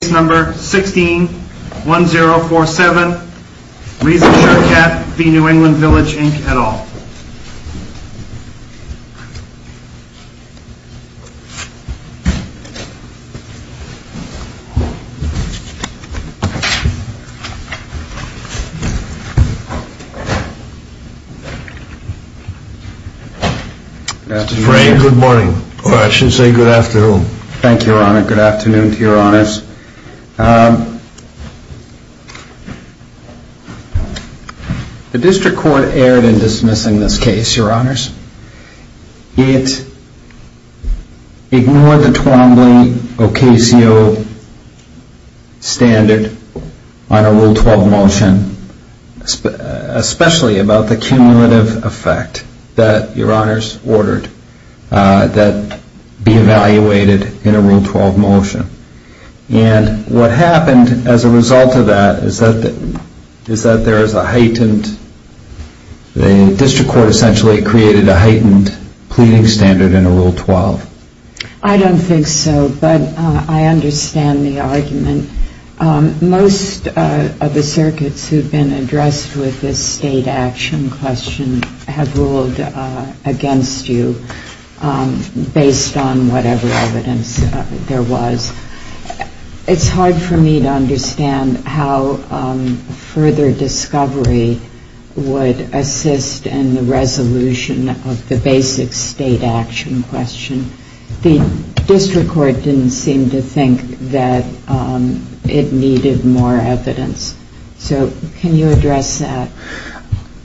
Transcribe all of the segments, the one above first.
Case number 16-1047, Regent Sherkat v. New England Village Inc. et al. Good morning. I should say good afternoon. Thank you, Your Honor. Good afternoon to Your Honors. The District Court erred in dismissing this case, Your Honors. It ignored the Twombly-Ocasio standard on a Rule 12 motion, especially about the cumulative effect that Your Honors ordered that be evaluated in a Rule 12 motion. And what happened as a result of that is that there is a heightened, the District Court essentially created a heightened pleading standard in a Rule 12. I don't think so, but I understand the argument. And most of the circuits who have been addressed with this state action question have ruled against you based on whatever evidence there was. It's hard for me to understand how further discovery would assist in the resolution of the basic state action question. The District Court didn't seem to think that it needed more evidence. So can you address that?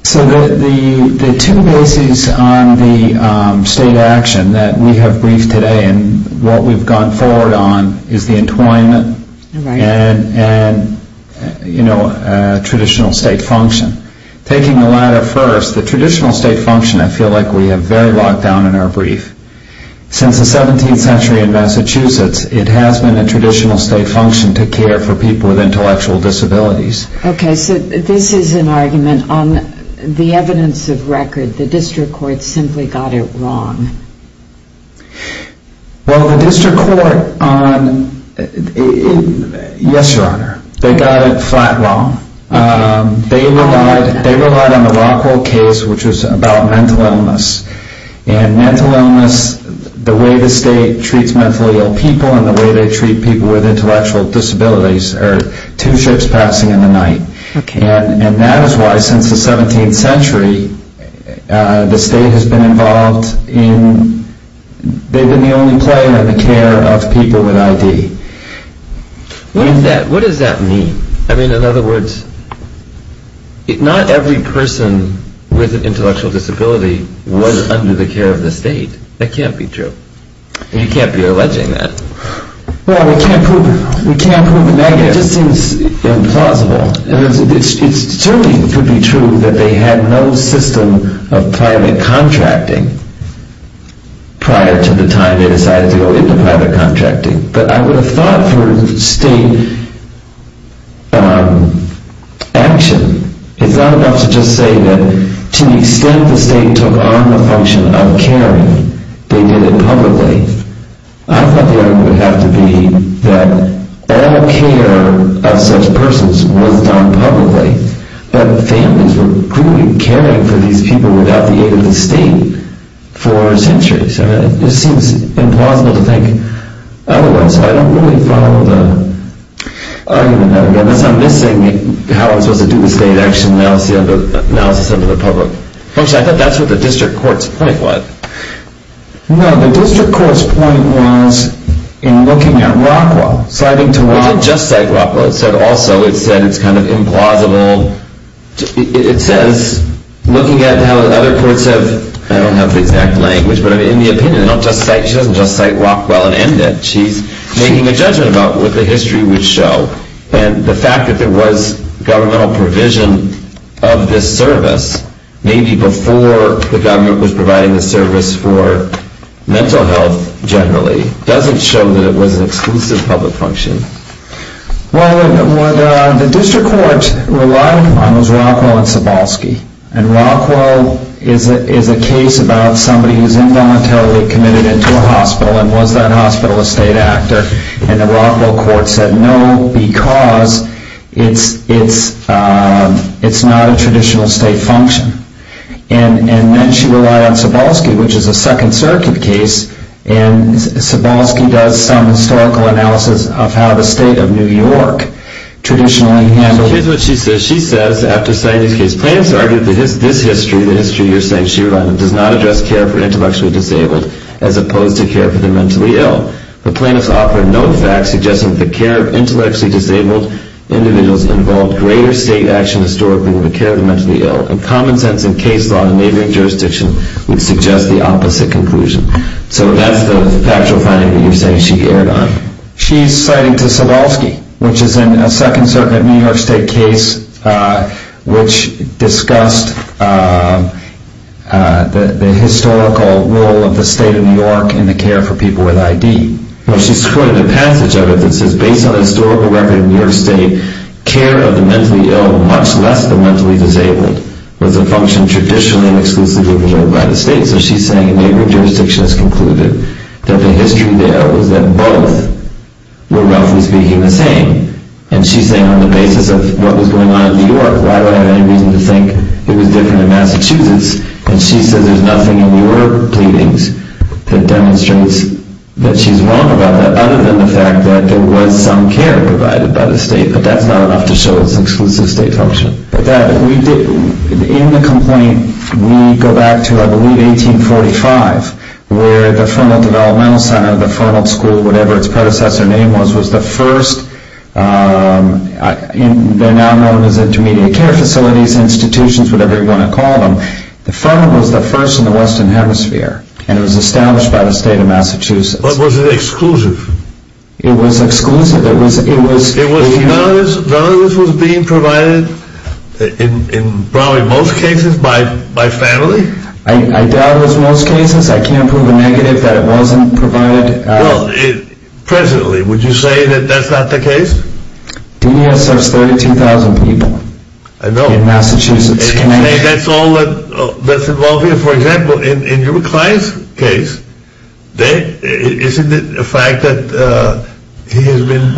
So the two bases on the state action that we have briefed today and what we've gone forward on is the entwinement and traditional state function. Taking the latter first, the traditional state function, I feel like we have very locked down in our brief. Since the 17th century in Massachusetts, it has been a traditional state function to care for people with intellectual disabilities. Okay, so this is an argument on the evidence of record. The District Court simply got it wrong. Well, the District Court on, yes, Your Honor, they got it flat wrong. They relied on the Rockwell case, which was about mental illness. And mental illness, the way the state treats mentally ill people and the way they treat people with intellectual disabilities are two ships passing in the night. And that is why since the 17th century, the state has been involved in, they've been the only player in the care of people with ID. What does that mean? I mean, in other words, not every person with an intellectual disability was under the care of the state. That can't be true. You can't be alleging that. Well, we can't prove it. It just seems implausible. It certainly could be true that they had no system of private contracting prior to the time they decided to go into private contracting. But I would have thought for state action, it's not enough to just say that to the extent the state took on the function of caring, they did it publicly. I thought the argument would have to be that all care of such persons was done publicly. That families were clearly caring for these people without the aid of the state for centuries. It seems implausible to think otherwise. I don't really follow the argument there. I'm missing how I'm supposed to do the state action analysis under the public. Actually, I thought that's what the district court's point was. No, the district court's point was in looking at ROCWA, citing to ROCWA. It doesn't just cite ROCWA. It also said it's kind of implausible. It says, looking at how other courts have, I don't have the exact language, but in the opinion, she doesn't just cite ROCWA and end it. She's making a judgment about what the history would show. And the fact that there was governmental provision of this service, maybe before the government was providing the service for mental health generally, doesn't show that it was an exclusive public function. Well, what the district court relied upon was ROCWA and Cebalski. And ROCWA is a case about somebody who's involuntarily committed into a hospital and was that hospital a state actor. And the ROCWA court said, no, because it's not a traditional state function. And then she relied on Cebalski, which is a Second Circuit case, and Cebalski does some historical analysis of how the state of New York traditionally handled it. Well, here's what she says. She says, after citing this case, plaintiffs argued that this history, the history you're saying she relied on, does not address care for intellectually disabled as opposed to care for the mentally ill. But plaintiffs offer no facts suggesting that the care of intellectually disabled individuals involved greater state action historically than the care of the mentally ill. In common sense and case law in neighboring jurisdictions, we'd suggest the opposite conclusion. So that's the factual finding that you're saying she erred on. She's citing to Cebalski, which is a Second Circuit New York State case, which discussed the historical role of the state of New York in the care for people with ID. She's quoted a passage of it that says, based on historical record in New York State, care of the mentally ill, much less the mentally disabled, was a function traditionally and exclusively of the United States. So she's saying a neighboring jurisdiction has concluded that the history there was that both were roughly speaking the same. And she's saying on the basis of what was going on in New York, why would I have any reason to think it was different in Massachusetts? And she says there's nothing in your pleadings that demonstrates that she's wrong about that, other than the fact that there was some care provided by the state. But that's not enough to show it's an exclusive state function. In the complaint, we go back to, I believe, 1845, where the Fernald Developmental Center, the Fernald School, whatever its predecessor name was, was the first. They're now known as intermediate care facilities, institutions, whatever you want to call them. The Fernald was the first in the Western Hemisphere, and it was established by the state of Massachusetts. But was it exclusive? It was exclusive. None of this was being provided, in probably most cases, by family? I doubt it was in most cases. I can't prove a negative that it wasn't provided. Well, presently, would you say that that's not the case? DDS has 32,000 people in Massachusetts. And you say that's all that's involved here? So, for example, in your client's case, isn't it a fact that he has been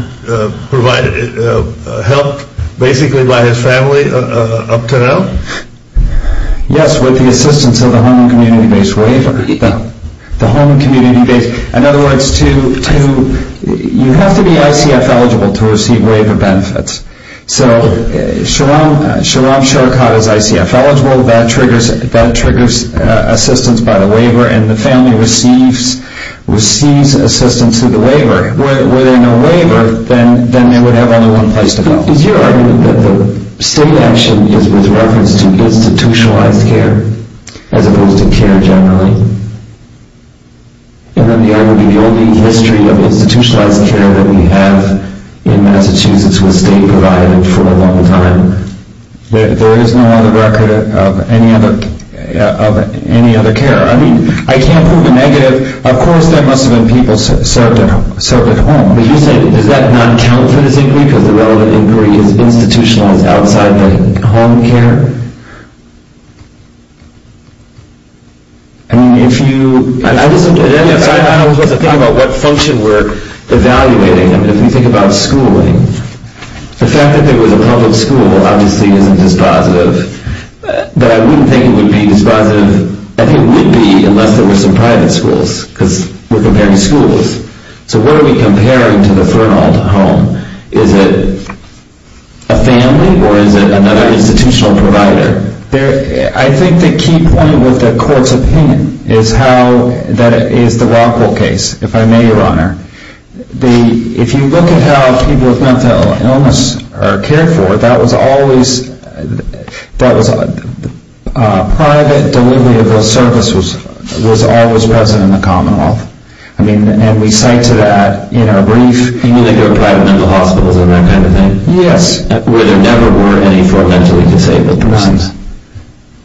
helped basically by his family up to now? Yes, with the assistance of the Home and Community-Based Waiver. In other words, you have to be ICF-eligible to receive waiver benefits. So, Sheram Sherakat is ICF-eligible. That triggers assistance by the waiver, and the family receives assistance through the waiver. Were there no waiver, then they would have only one place to go. But is your argument that the state action is with reference to institutionalized care, as opposed to care generally? And then the only history of institutionalized care that we have in Massachusetts was state-provided for a long time. There is no other record of any other care. I mean, I can't prove a negative. Of course, there must have been people served at home. But you say, does that not count for this inquiry, because the relevant inquiry is institutionalized outside the home care? I mean, if you... I wasn't thinking about what function we're evaluating. I mean, if we think about schooling, the fact that there was a public school obviously isn't dispositive. But I wouldn't think it would be dispositive. I think it would be, unless there were some private schools, because we're comparing schools. So what are we comparing to the Fernald home? Is it a family, or is it another institutional provider? I think the key point with the court's opinion is how... is the Rockville case, if I may, Your Honor. If you look at how people with mental illness are cared for, that was always... private, deliverable service was always present in the Commonwealth. I mean, and we cite to that in our brief. You mean like there were private mental hospitals and that kind of thing? Yes. Where there never were any for mentally disabled persons.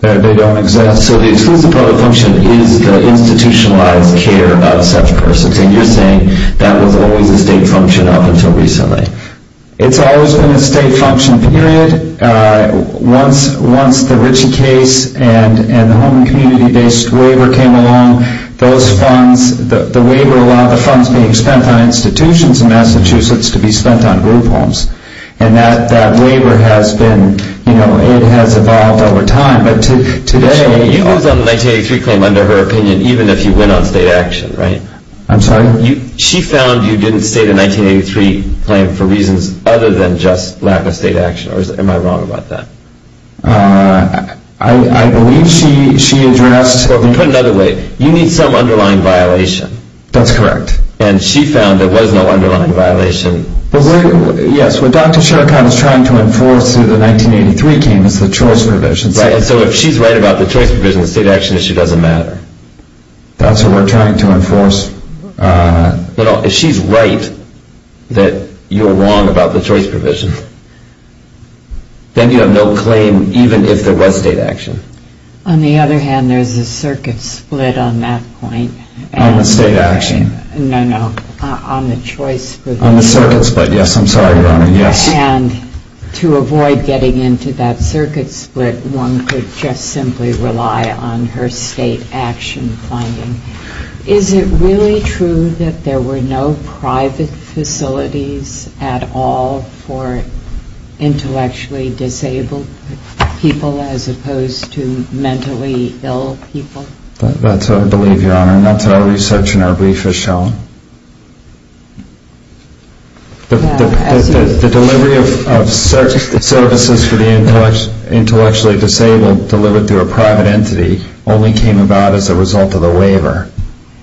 They don't exist. So the exclusive public function is the institutionalized care of such persons. And you're saying that was always a state function up until recently. It's always been a state function, period. Once the Ritchie case and the home and community-based waiver came along, those funds, the waiver allowed the funds being spent on institutions in Massachusetts to be spent on group homes. And that waiver has been, you know, it has evolved over time. You closed on the 1983 claim under her opinion, even if you went on state action, right? I'm sorry? She found you didn't state a 1983 claim for reasons other than just lack of state action. Or am I wrong about that? I believe she addressed... Put it another way, you need some underlying violation. That's correct. And she found there was no underlying violation. Yes, what Dr. Charikhan is trying to enforce through the 1983 claim is the choice provision. And so if she's right about the choice provision, the state action issue doesn't matter. That's what we're trying to enforce. If she's right that you're wrong about the choice provision, then you have no claim even if there was state action. On the other hand, there's a circuit split on that point. On the state action? No, no, on the choice provision. On the circuit split, yes, I'm sorry, Your Honor, yes. And to avoid getting into that circuit split, one could just simply rely on her state action finding. Is it really true that there were no private facilities at all for intellectually disabled people as opposed to mentally ill people? That's what I believe, Your Honor, and that's what our research and our brief has shown. The delivery of services for the intellectually disabled delivered through a private entity only came about as a result of the waiver.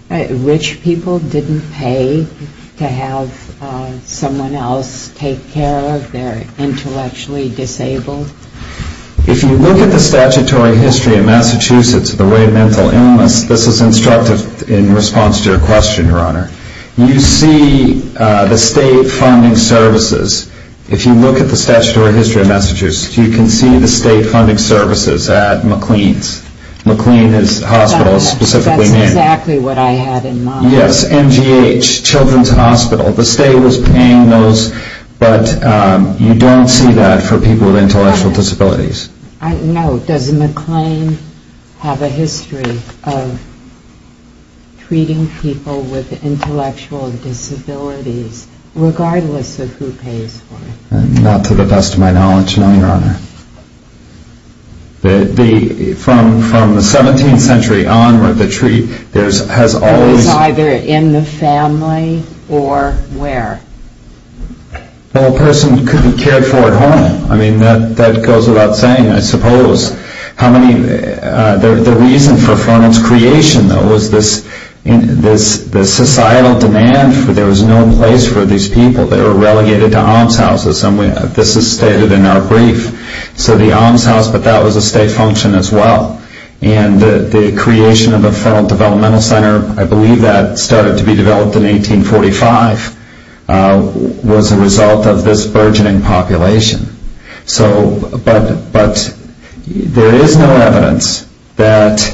Rich people didn't pay to have someone else take care of their intellectually disabled? If you look at the statutory history of Massachusetts, the way mental illness, this is instructive in response to your question, Your Honor. You see the state funding services. If you look at the statutory history of Massachusetts, you can see the state funding services at McLean's. McLean is a hospital specifically named. That's exactly what I had in mind. Yes, MGH, Children's Hospital. The state was paying those, but you don't see that for people with intellectual disabilities. Does McLean have a history of treating people with intellectual disabilities, regardless of who pays for it? Not to the best of my knowledge, no, Your Honor. From the 17th century onward, the treatment has always... It was either in the family or where? Well, a person could be cared for at home. I mean, that goes without saying, I suppose. How many... The reason for Fennel's creation, though, was this societal demand for there was no place for these people. They were relegated to almshouses. This is stated in our brief. So the almshouse, but that was a state function as well. And the creation of the Fennel Developmental Center, I believe that started to be developed in 1845, was a result of this burgeoning population. But there is no evidence that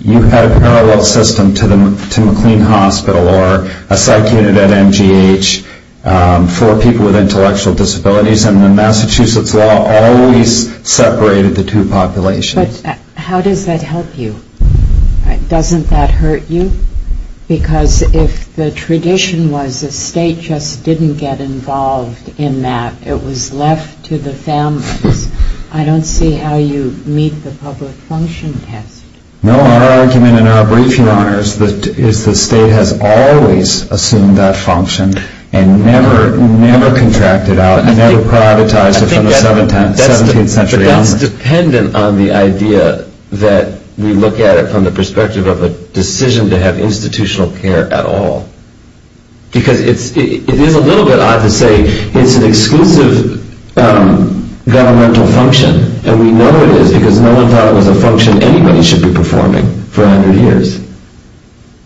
you had a parallel system to McLean Hospital or a psych unit at MGH for people with intellectual disabilities, and the Massachusetts law always separated the two populations. But how does that help you? Doesn't that hurt you? Because if the tradition was the state just didn't get involved in that, it was left to the families. I don't see how you meet the public function test. No, our argument in our briefing, Your Honor, is the state has always assumed that function and never contracted out and never privatized it from the 17th century onward. That's dependent on the idea that we look at it from the perspective of a decision to have institutional care at all. Because it is a little bit odd to say it's an exclusive governmental function, and we know it is because no one thought it was a function anybody should be performing for 100 years.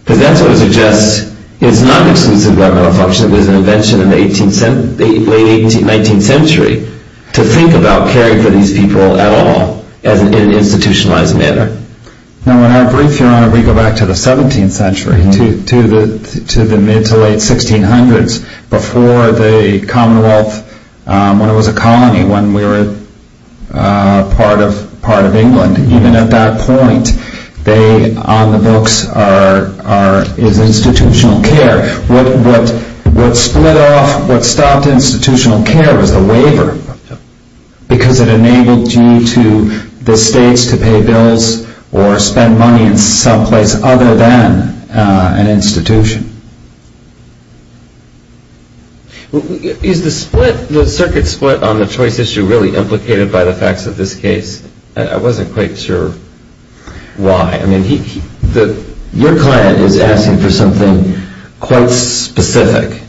Because that sort of suggests it's not an exclusive governmental function. It was an invention in the late 19th century to think about caring for these people at all in an institutionalized manner. No, in our brief, Your Honor, we go back to the 17th century, to the mid to late 1600s, before the Commonwealth, when it was a colony, when we were part of England. Even at that point, on the books is institutional care. What split off, what stopped institutional care was the waiver. Because it enabled you to, the states, to pay bills or spend money in some place other than an institution. Is the circuit split on the choice issue really implicated by the facts of this case? I wasn't quite sure why. Your client is asking for something quite specific.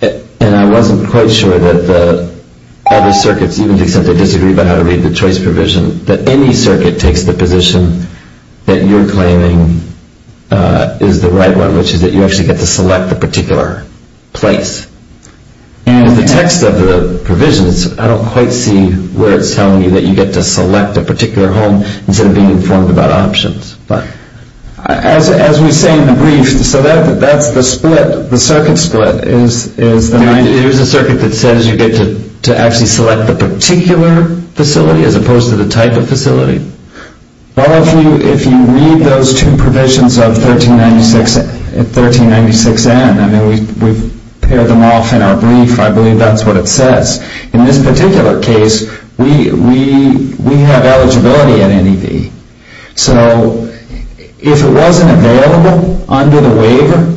And I wasn't quite sure that the other circuits, even if they disagree about how to read the choice provision, that any circuit takes the position that you're claiming is the right one, which is that you actually get to select the particular place. And the text of the provision, I don't quite see where it's telling you that you get to select a particular home instead of being informed about options. As we say in the brief, so that's the split, the circuit split. It is a circuit that says you get to actually select the particular facility as opposed to the type of facility. Well, if you read those two provisions of 1396N, we've paired them off in our brief, I believe that's what it says. In this particular case, we have eligibility at NEV. So if it wasn't available under the waiver,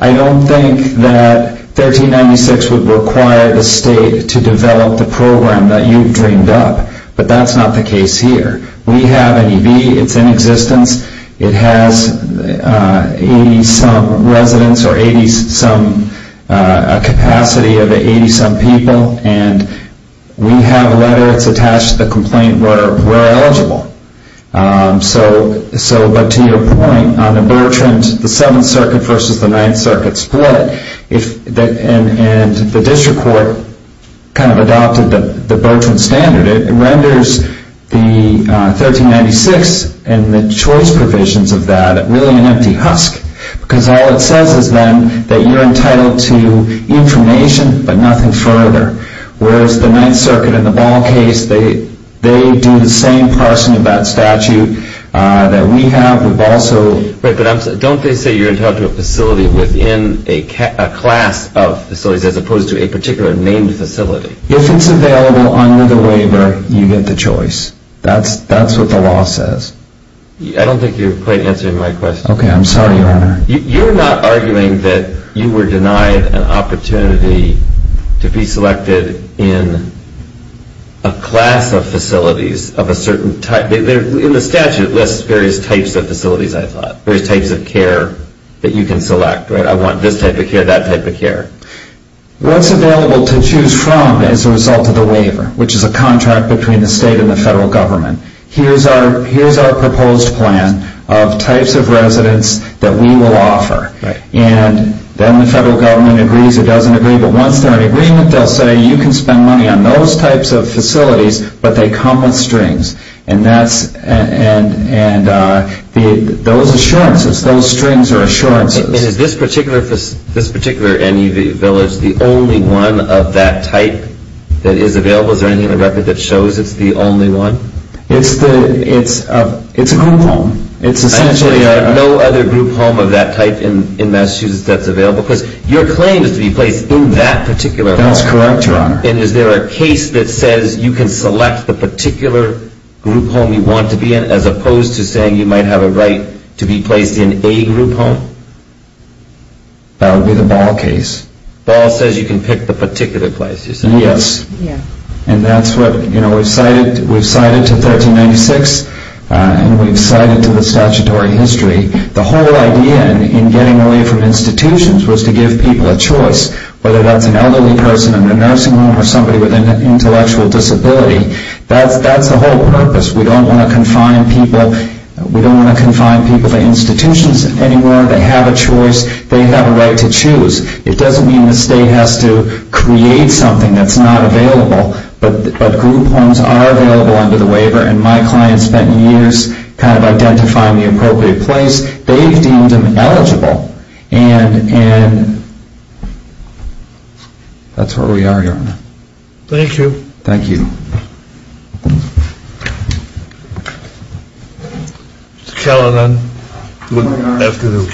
I don't think that 1396 would require the state to develop the program that you've dreamed up. But that's not the case here. It has 80-some residents or a capacity of 80-some people. And we have letters attached to the complaint where we're eligible. But to your point, on the Bertrand, the 7th Circuit versus the 9th Circuit split, and the district court kind of adopted the Bertrand standard. It renders the 1396 and the choice provisions of that really an empty husk because all it says is then that you're entitled to information but nothing further. Whereas the 9th Circuit and the Ball case, they do the same parsing of that statute that we have. But don't they say you're entitled to a facility within a class of facilities as opposed to a particular named facility? If it's available under the waiver, you get the choice. That's what the law says. I don't think you're quite answering my question. Okay. I'm sorry, Your Honor. You're not arguing that you were denied an opportunity to be selected in a class of facilities of a certain type. In the statute, it lists various types of facilities, I thought, various types of care that you can select, right? I want this type of care, that type of care. What's available to choose from as a result of the waiver, which is a contract between the state and the federal government? Here's our proposed plan of types of residence that we will offer. And then the federal government agrees or doesn't agree. But once they're in agreement, they'll say you can spend money on those types of facilities, but they come with strings. And those assurances, those strings are assurances. And is this particular NEV village the only one of that type that is available? Is there anything in the record that shows it's the only one? It's a group home. And there are no other group home of that type in Massachusetts that's available? Because your claim is to be placed in that particular home. That's correct, Your Honor. And is there a case that says you can select the particular group home you want to be in, as opposed to saying you might have a right to be placed in a group home? That would be the Ball case. Ball says you can pick the particular place. Yes. And that's what, you know, we've cited to 1396, and we've cited to the statutory history. The whole idea in getting away from institutions was to give people a choice, whether that's an elderly person in the nursing home or somebody with an intellectual disability. That's the whole purpose. We don't want to confine people to institutions anywhere. They have a choice. They have a right to choose. It doesn't mean the state has to create something that's not available. But group homes are available under the waiver, and my clients spent years kind of identifying the appropriate place. They've deemed them eligible. And that's where we are, Your Honor. Thank you. Thank you. Thank you. Mr. Callan, then. Good afternoon.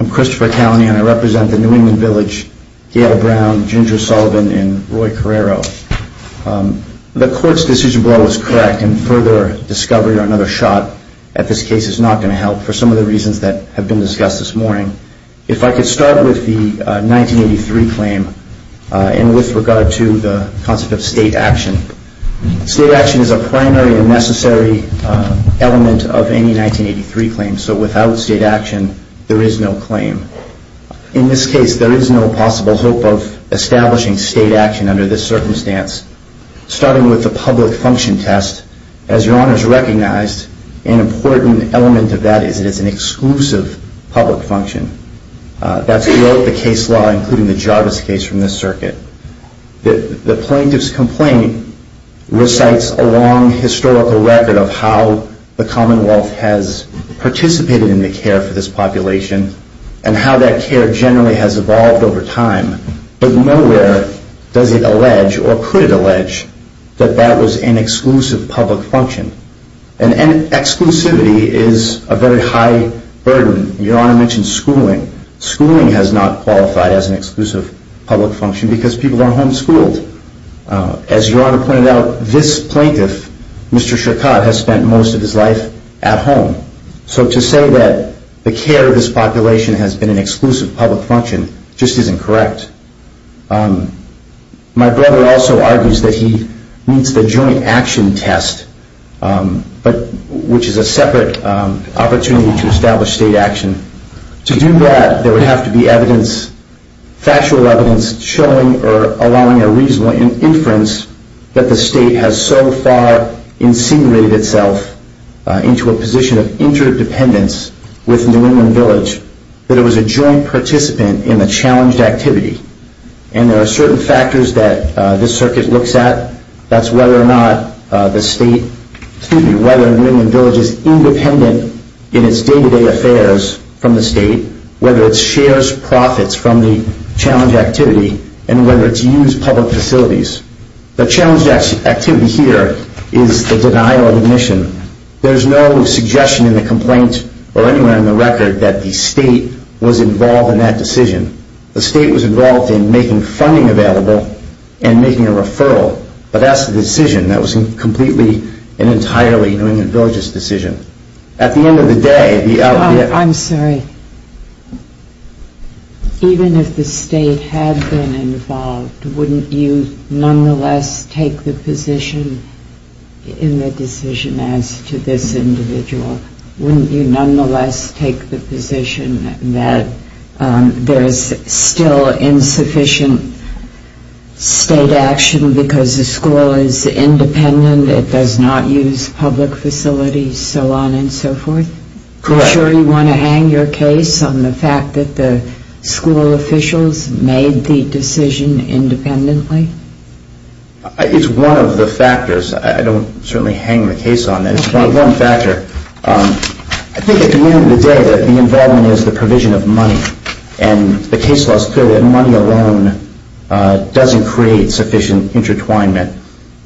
I'm Christopher Callan, and I represent the New England Village, Gail Brown, Ginger Sullivan, and Roy Carrero. The Court's decision brought was correct, and further discovery or another shot at this case is not going to help for some of the reasons that have been discussed this morning. If I could start with the 1983 claim and with regard to the concept of state action. State action is a primary and necessary element of any 1983 claim. So without state action, there is no claim. In this case, there is no possible hope of establishing state action under this circumstance. Starting with the public function test, as Your Honor has recognized, an important element of that is it is an exclusive public function. That's throughout the case law, including the Jarvis case from this circuit. The plaintiff's complaint recites a long historical record of how the Commonwealth has participated in the care for this population and how that care generally has evolved over time. But nowhere does it allege or could it allege that that was an exclusive public function. And exclusivity is a very high burden. Your Honor mentioned schooling. Schooling has not qualified as an exclusive public function because people are homeschooled. As Your Honor pointed out, this plaintiff, Mr. Shirkat, has spent most of his life at home. So to say that the care of this population has been an exclusive public function just isn't correct. My brother also argues that he needs the joint action test, which is a separate opportunity to establish state action. To do that, there would have to be evidence, factual evidence, showing or allowing a reasonable inference that the state has so far incinerated itself into a position of interdependence with New England Village that it was a joint participant in the challenged activity. And there are certain factors that this circuit looks at. That's whether or not the state, excuse me, whether New England Village is independent in its day-to-day affairs from the state, whether it shares profits from the challenged activity, and whether it's used public facilities. The challenged activity here is the denial of admission. There's no suggestion in the complaint or anywhere in the record that the state was involved in that decision. The state was involved in making funding available and making a referral. But that's the decision that was completely and entirely New England Village's decision. At the end of the day... I'm sorry. Even if the state had been involved, wouldn't you nonetheless take the position in the decision as to this individual? Wouldn't you nonetheless take the position that there is still insufficient state action because the school is independent, it does not use public facilities, so on and so forth? Correct. Are you sure you want to hang your case on the fact that the school officials made the decision independently? It's one of the factors. I don't certainly hang the case on that. It's one factor. I think at the end of the day, the involvement is the provision of money. And the case law is clear that money alone doesn't create sufficient intertwinement.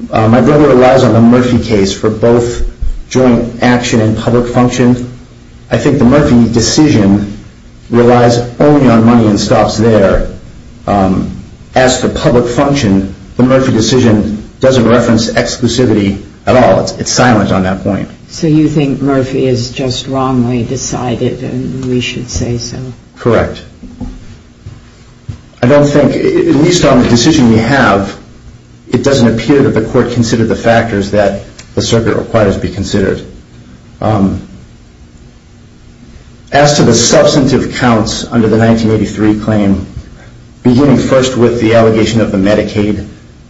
My brother relies on the Murphy case for both joint action and public function. I think the Murphy decision relies only on money and stops there. As for public function, the Murphy decision doesn't reference exclusivity at all. It's silent on that point. So you think Murphy is just wrongly decided and we should say so? Correct. I don't think, at least on the decision we have, it doesn't appear that the court considered the factors that the circuit requires be considered. As to the substantive counts under the 1983 claim, beginning first with the allegation of the Medicaid,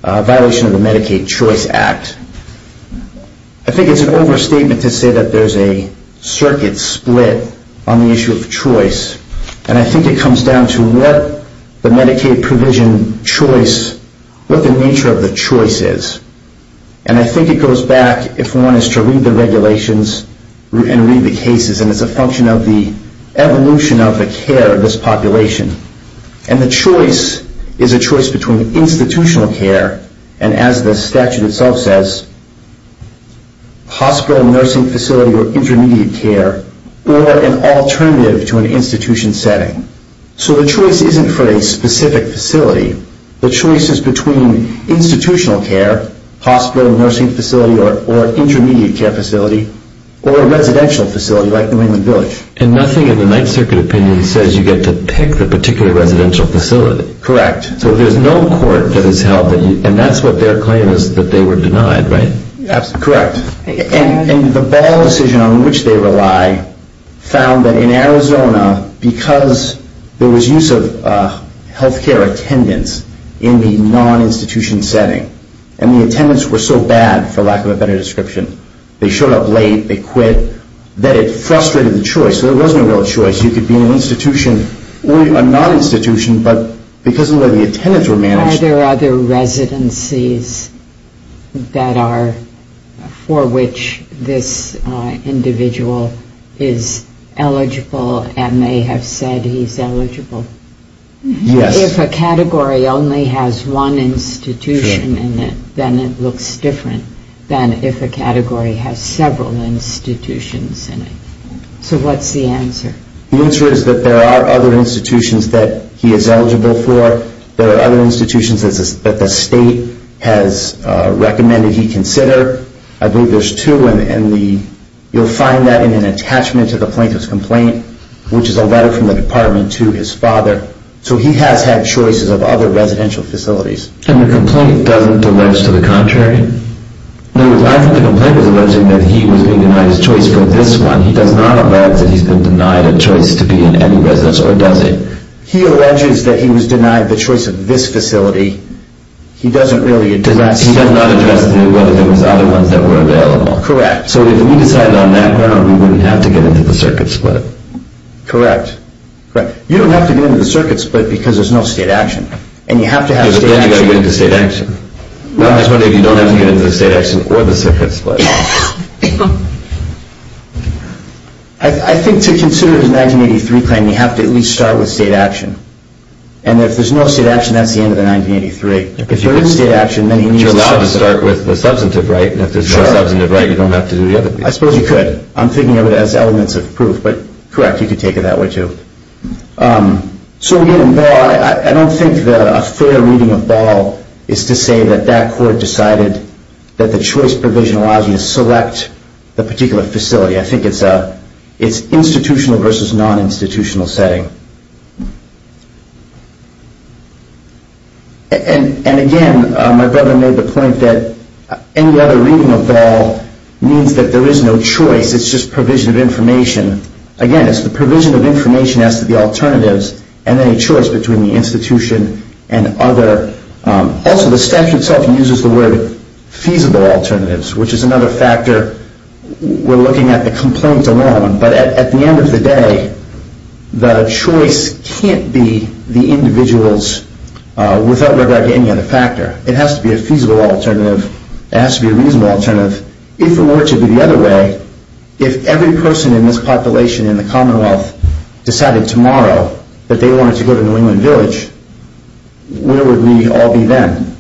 violation of the Medicaid Choice Act, I think it's an overstatement to say that there's a circuit split on the issue of choice. And I think it comes down to what the Medicaid provision choice, what the nature of the choice is. And I think it goes back, if one is to read the regulations and read the cases, and it's a function of the evolution of the care of this population. And the choice is a choice between institutional care and, as the statute itself says, hospital, nursing facility, or intermediate care, or an alternative to an institution setting. So the choice isn't for a specific facility. The choice is between institutional care, hospital, nursing facility, or intermediate care facility, or a residential facility like the Raymond Village. And nothing in the Ninth Circuit opinion says you get to pick the particular residential facility. Correct. So there's no court that has held that, and that's what their claim is, that they were denied, right? Correct. And the Ball decision on which they rely found that in Arizona, because there was use of health care attendance in the non-institution setting, and the attendants were so bad, for lack of a better description, they showed up late, they quit, that it frustrated the choice. There was no real choice. You could be in an institution or a non-institution, but because of the way the attendants were managed... Are there other residencies for which this individual is eligible and may have said he's eligible? Yes. If a category only has one institution in it, then it looks different than if a category has several institutions in it. So what's the answer? The answer is that there are other institutions that he is eligible for. There are other institutions that the state has recommended he consider. I believe there's two, and you'll find that in an attachment to the plaintiff's complaint, which is a letter from the department to his father. So he has had choices of other residential facilities. And the complaint doesn't deliver to the contrary? No, the complaint was alleging that he was being denied his choice for this one. He does not allege that he's been denied a choice to be in any residence, or does he? He alleges that he was denied the choice of this facility. He doesn't really address... He does not address whether there was other ones that were available. Correct. So if we decided on that ground, we wouldn't have to get into the circuit split. Correct. You don't have to get into the circuit split because there's no state action. And you have to have state action. I don't think you have to get into state action. I'm just wondering if you don't have to get into the state action or the circuit split. I think to consider it a 1983 claim, you have to at least start with state action. And if there's no state action, that's the end of the 1983. If there isn't state action, then he needs... But you're allowed to start with the substantive right, and if there's no substantive right, you don't have to do the other piece. I suppose you could. I'm thinking of it as elements of proof. But correct, you could take it that way too. So again, I don't think that a fair reading of Ball is to say that that court decided that the choice provision allows you to select the particular facility. I think it's institutional versus non-institutional setting. And again, my brother made the point that any other reading of Ball means that there is no choice. It's just provision of information. Again, it's the provision of information as to the alternatives and any choice between the institution and other... Also, the statute itself uses the word feasible alternatives, which is another factor we're looking at the complaint alone. But at the end of the day, the choice can't be the individual's without regard to any other factor. It has to be a feasible alternative. It has to be a reasonable alternative. If it were to be the other way, if every person in this population in the Commonwealth decided tomorrow that they wanted to go to New England Village, where would we all be then?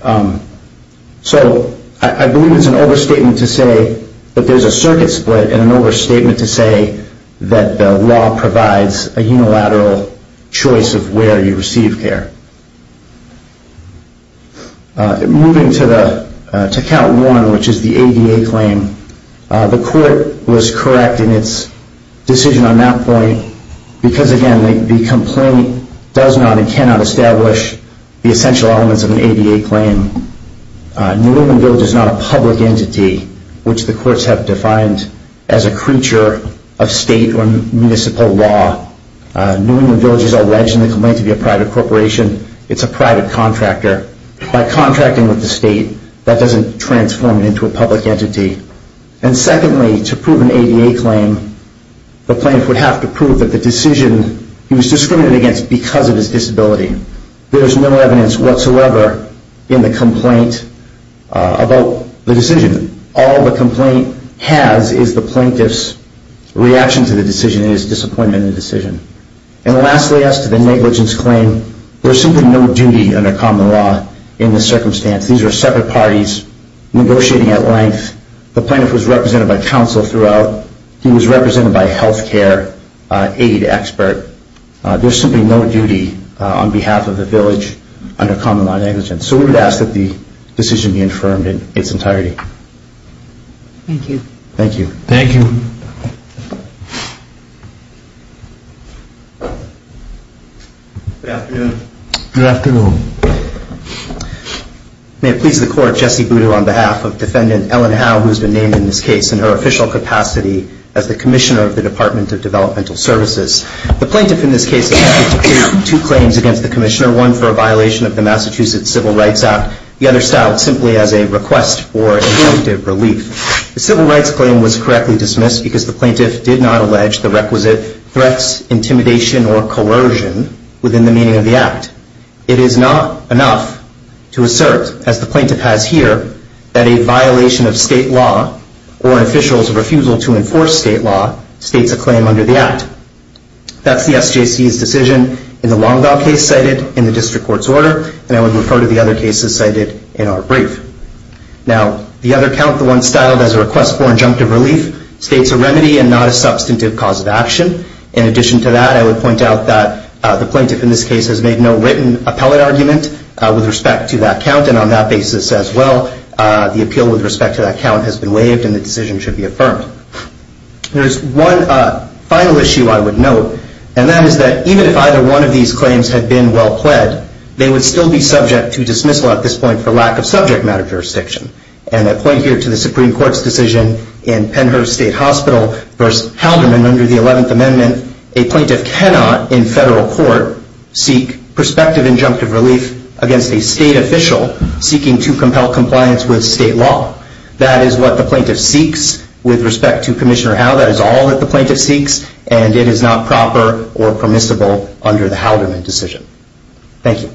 So I believe it's an overstatement to say that there's a circuit split and an overstatement to say that the law provides a unilateral choice of where you receive care. Moving to Count 1, which is the ADA claim, the court was correct in its decision on that point because, again, the complaint does not and cannot establish the essential elements of an ADA claim. New England Village is not a public entity, which the courts have defined as a creature of state or municipal law. New England Village is alleged in the complaint to be a private corporation. It's a private contractor. By contracting with the state, that doesn't transform it into a public entity. And secondly, to prove an ADA claim, the plaintiff would have to prove that the decision he was discriminated against because of his disability. There is no evidence whatsoever in the complaint about the decision. All the complaint has is the plaintiff's reaction to the decision and his disappointment in the decision. And lastly, as to the negligence claim, there's simply no duty under common law in this circumstance. These are separate parties negotiating at length. The plaintiff was represented by counsel throughout. He was represented by a health care aid expert. There's simply no duty on behalf of the village under common law negligence. So we would ask that the decision be affirmed in its entirety. Thank you. Thank you. Thank you. Good afternoon. Good afternoon. May it please the Court, Jesse Boudreau on behalf of Defendant Ellen Howe, who has been named in this case in her official capacity as the Commissioner of the Department of Developmental Services. The plaintiff in this case has made two claims against the Commissioner, one for a violation of the Massachusetts Civil Rights Act, the other styled simply as a request for a definitive relief. The civil rights claim was correctly dismissed because the plaintiff did not allege the requisite threats, intimidation or coercion within the meaning of the act. It is not enough to assert, as the plaintiff has here, that a violation of state law or an official's refusal to enforce state law states a claim under the act. That's the SJC's decision. It's the same decision in the Longval case cited in the District Court's order, and I would refer to the other cases cited in our brief. Now, the other count, the one styled as a request for injunctive relief, states a remedy and not a substantive cause of action. In addition to that, I would point out that the plaintiff in this case has made no written appellate argument with respect to that count, and on that basis as well, the appeal with respect to that count has been waived and the decision should be affirmed. There's one final issue I would note, and that is that even if either one of these claims had been well pled, they would still be subject to dismissal at this point for lack of subject matter jurisdiction. And I point here to the Supreme Court's decision in Pennhurst State Hospital v. Halderman under the 11th Amendment. A plaintiff cannot in federal court seek prospective injunctive relief against a state official seeking to compel compliance with state law. That is what the plaintiff seeks with respect to Commissioner Howe. That is all that the plaintiff seeks, and it is not proper or permissible under the Halderman decision. Thank you.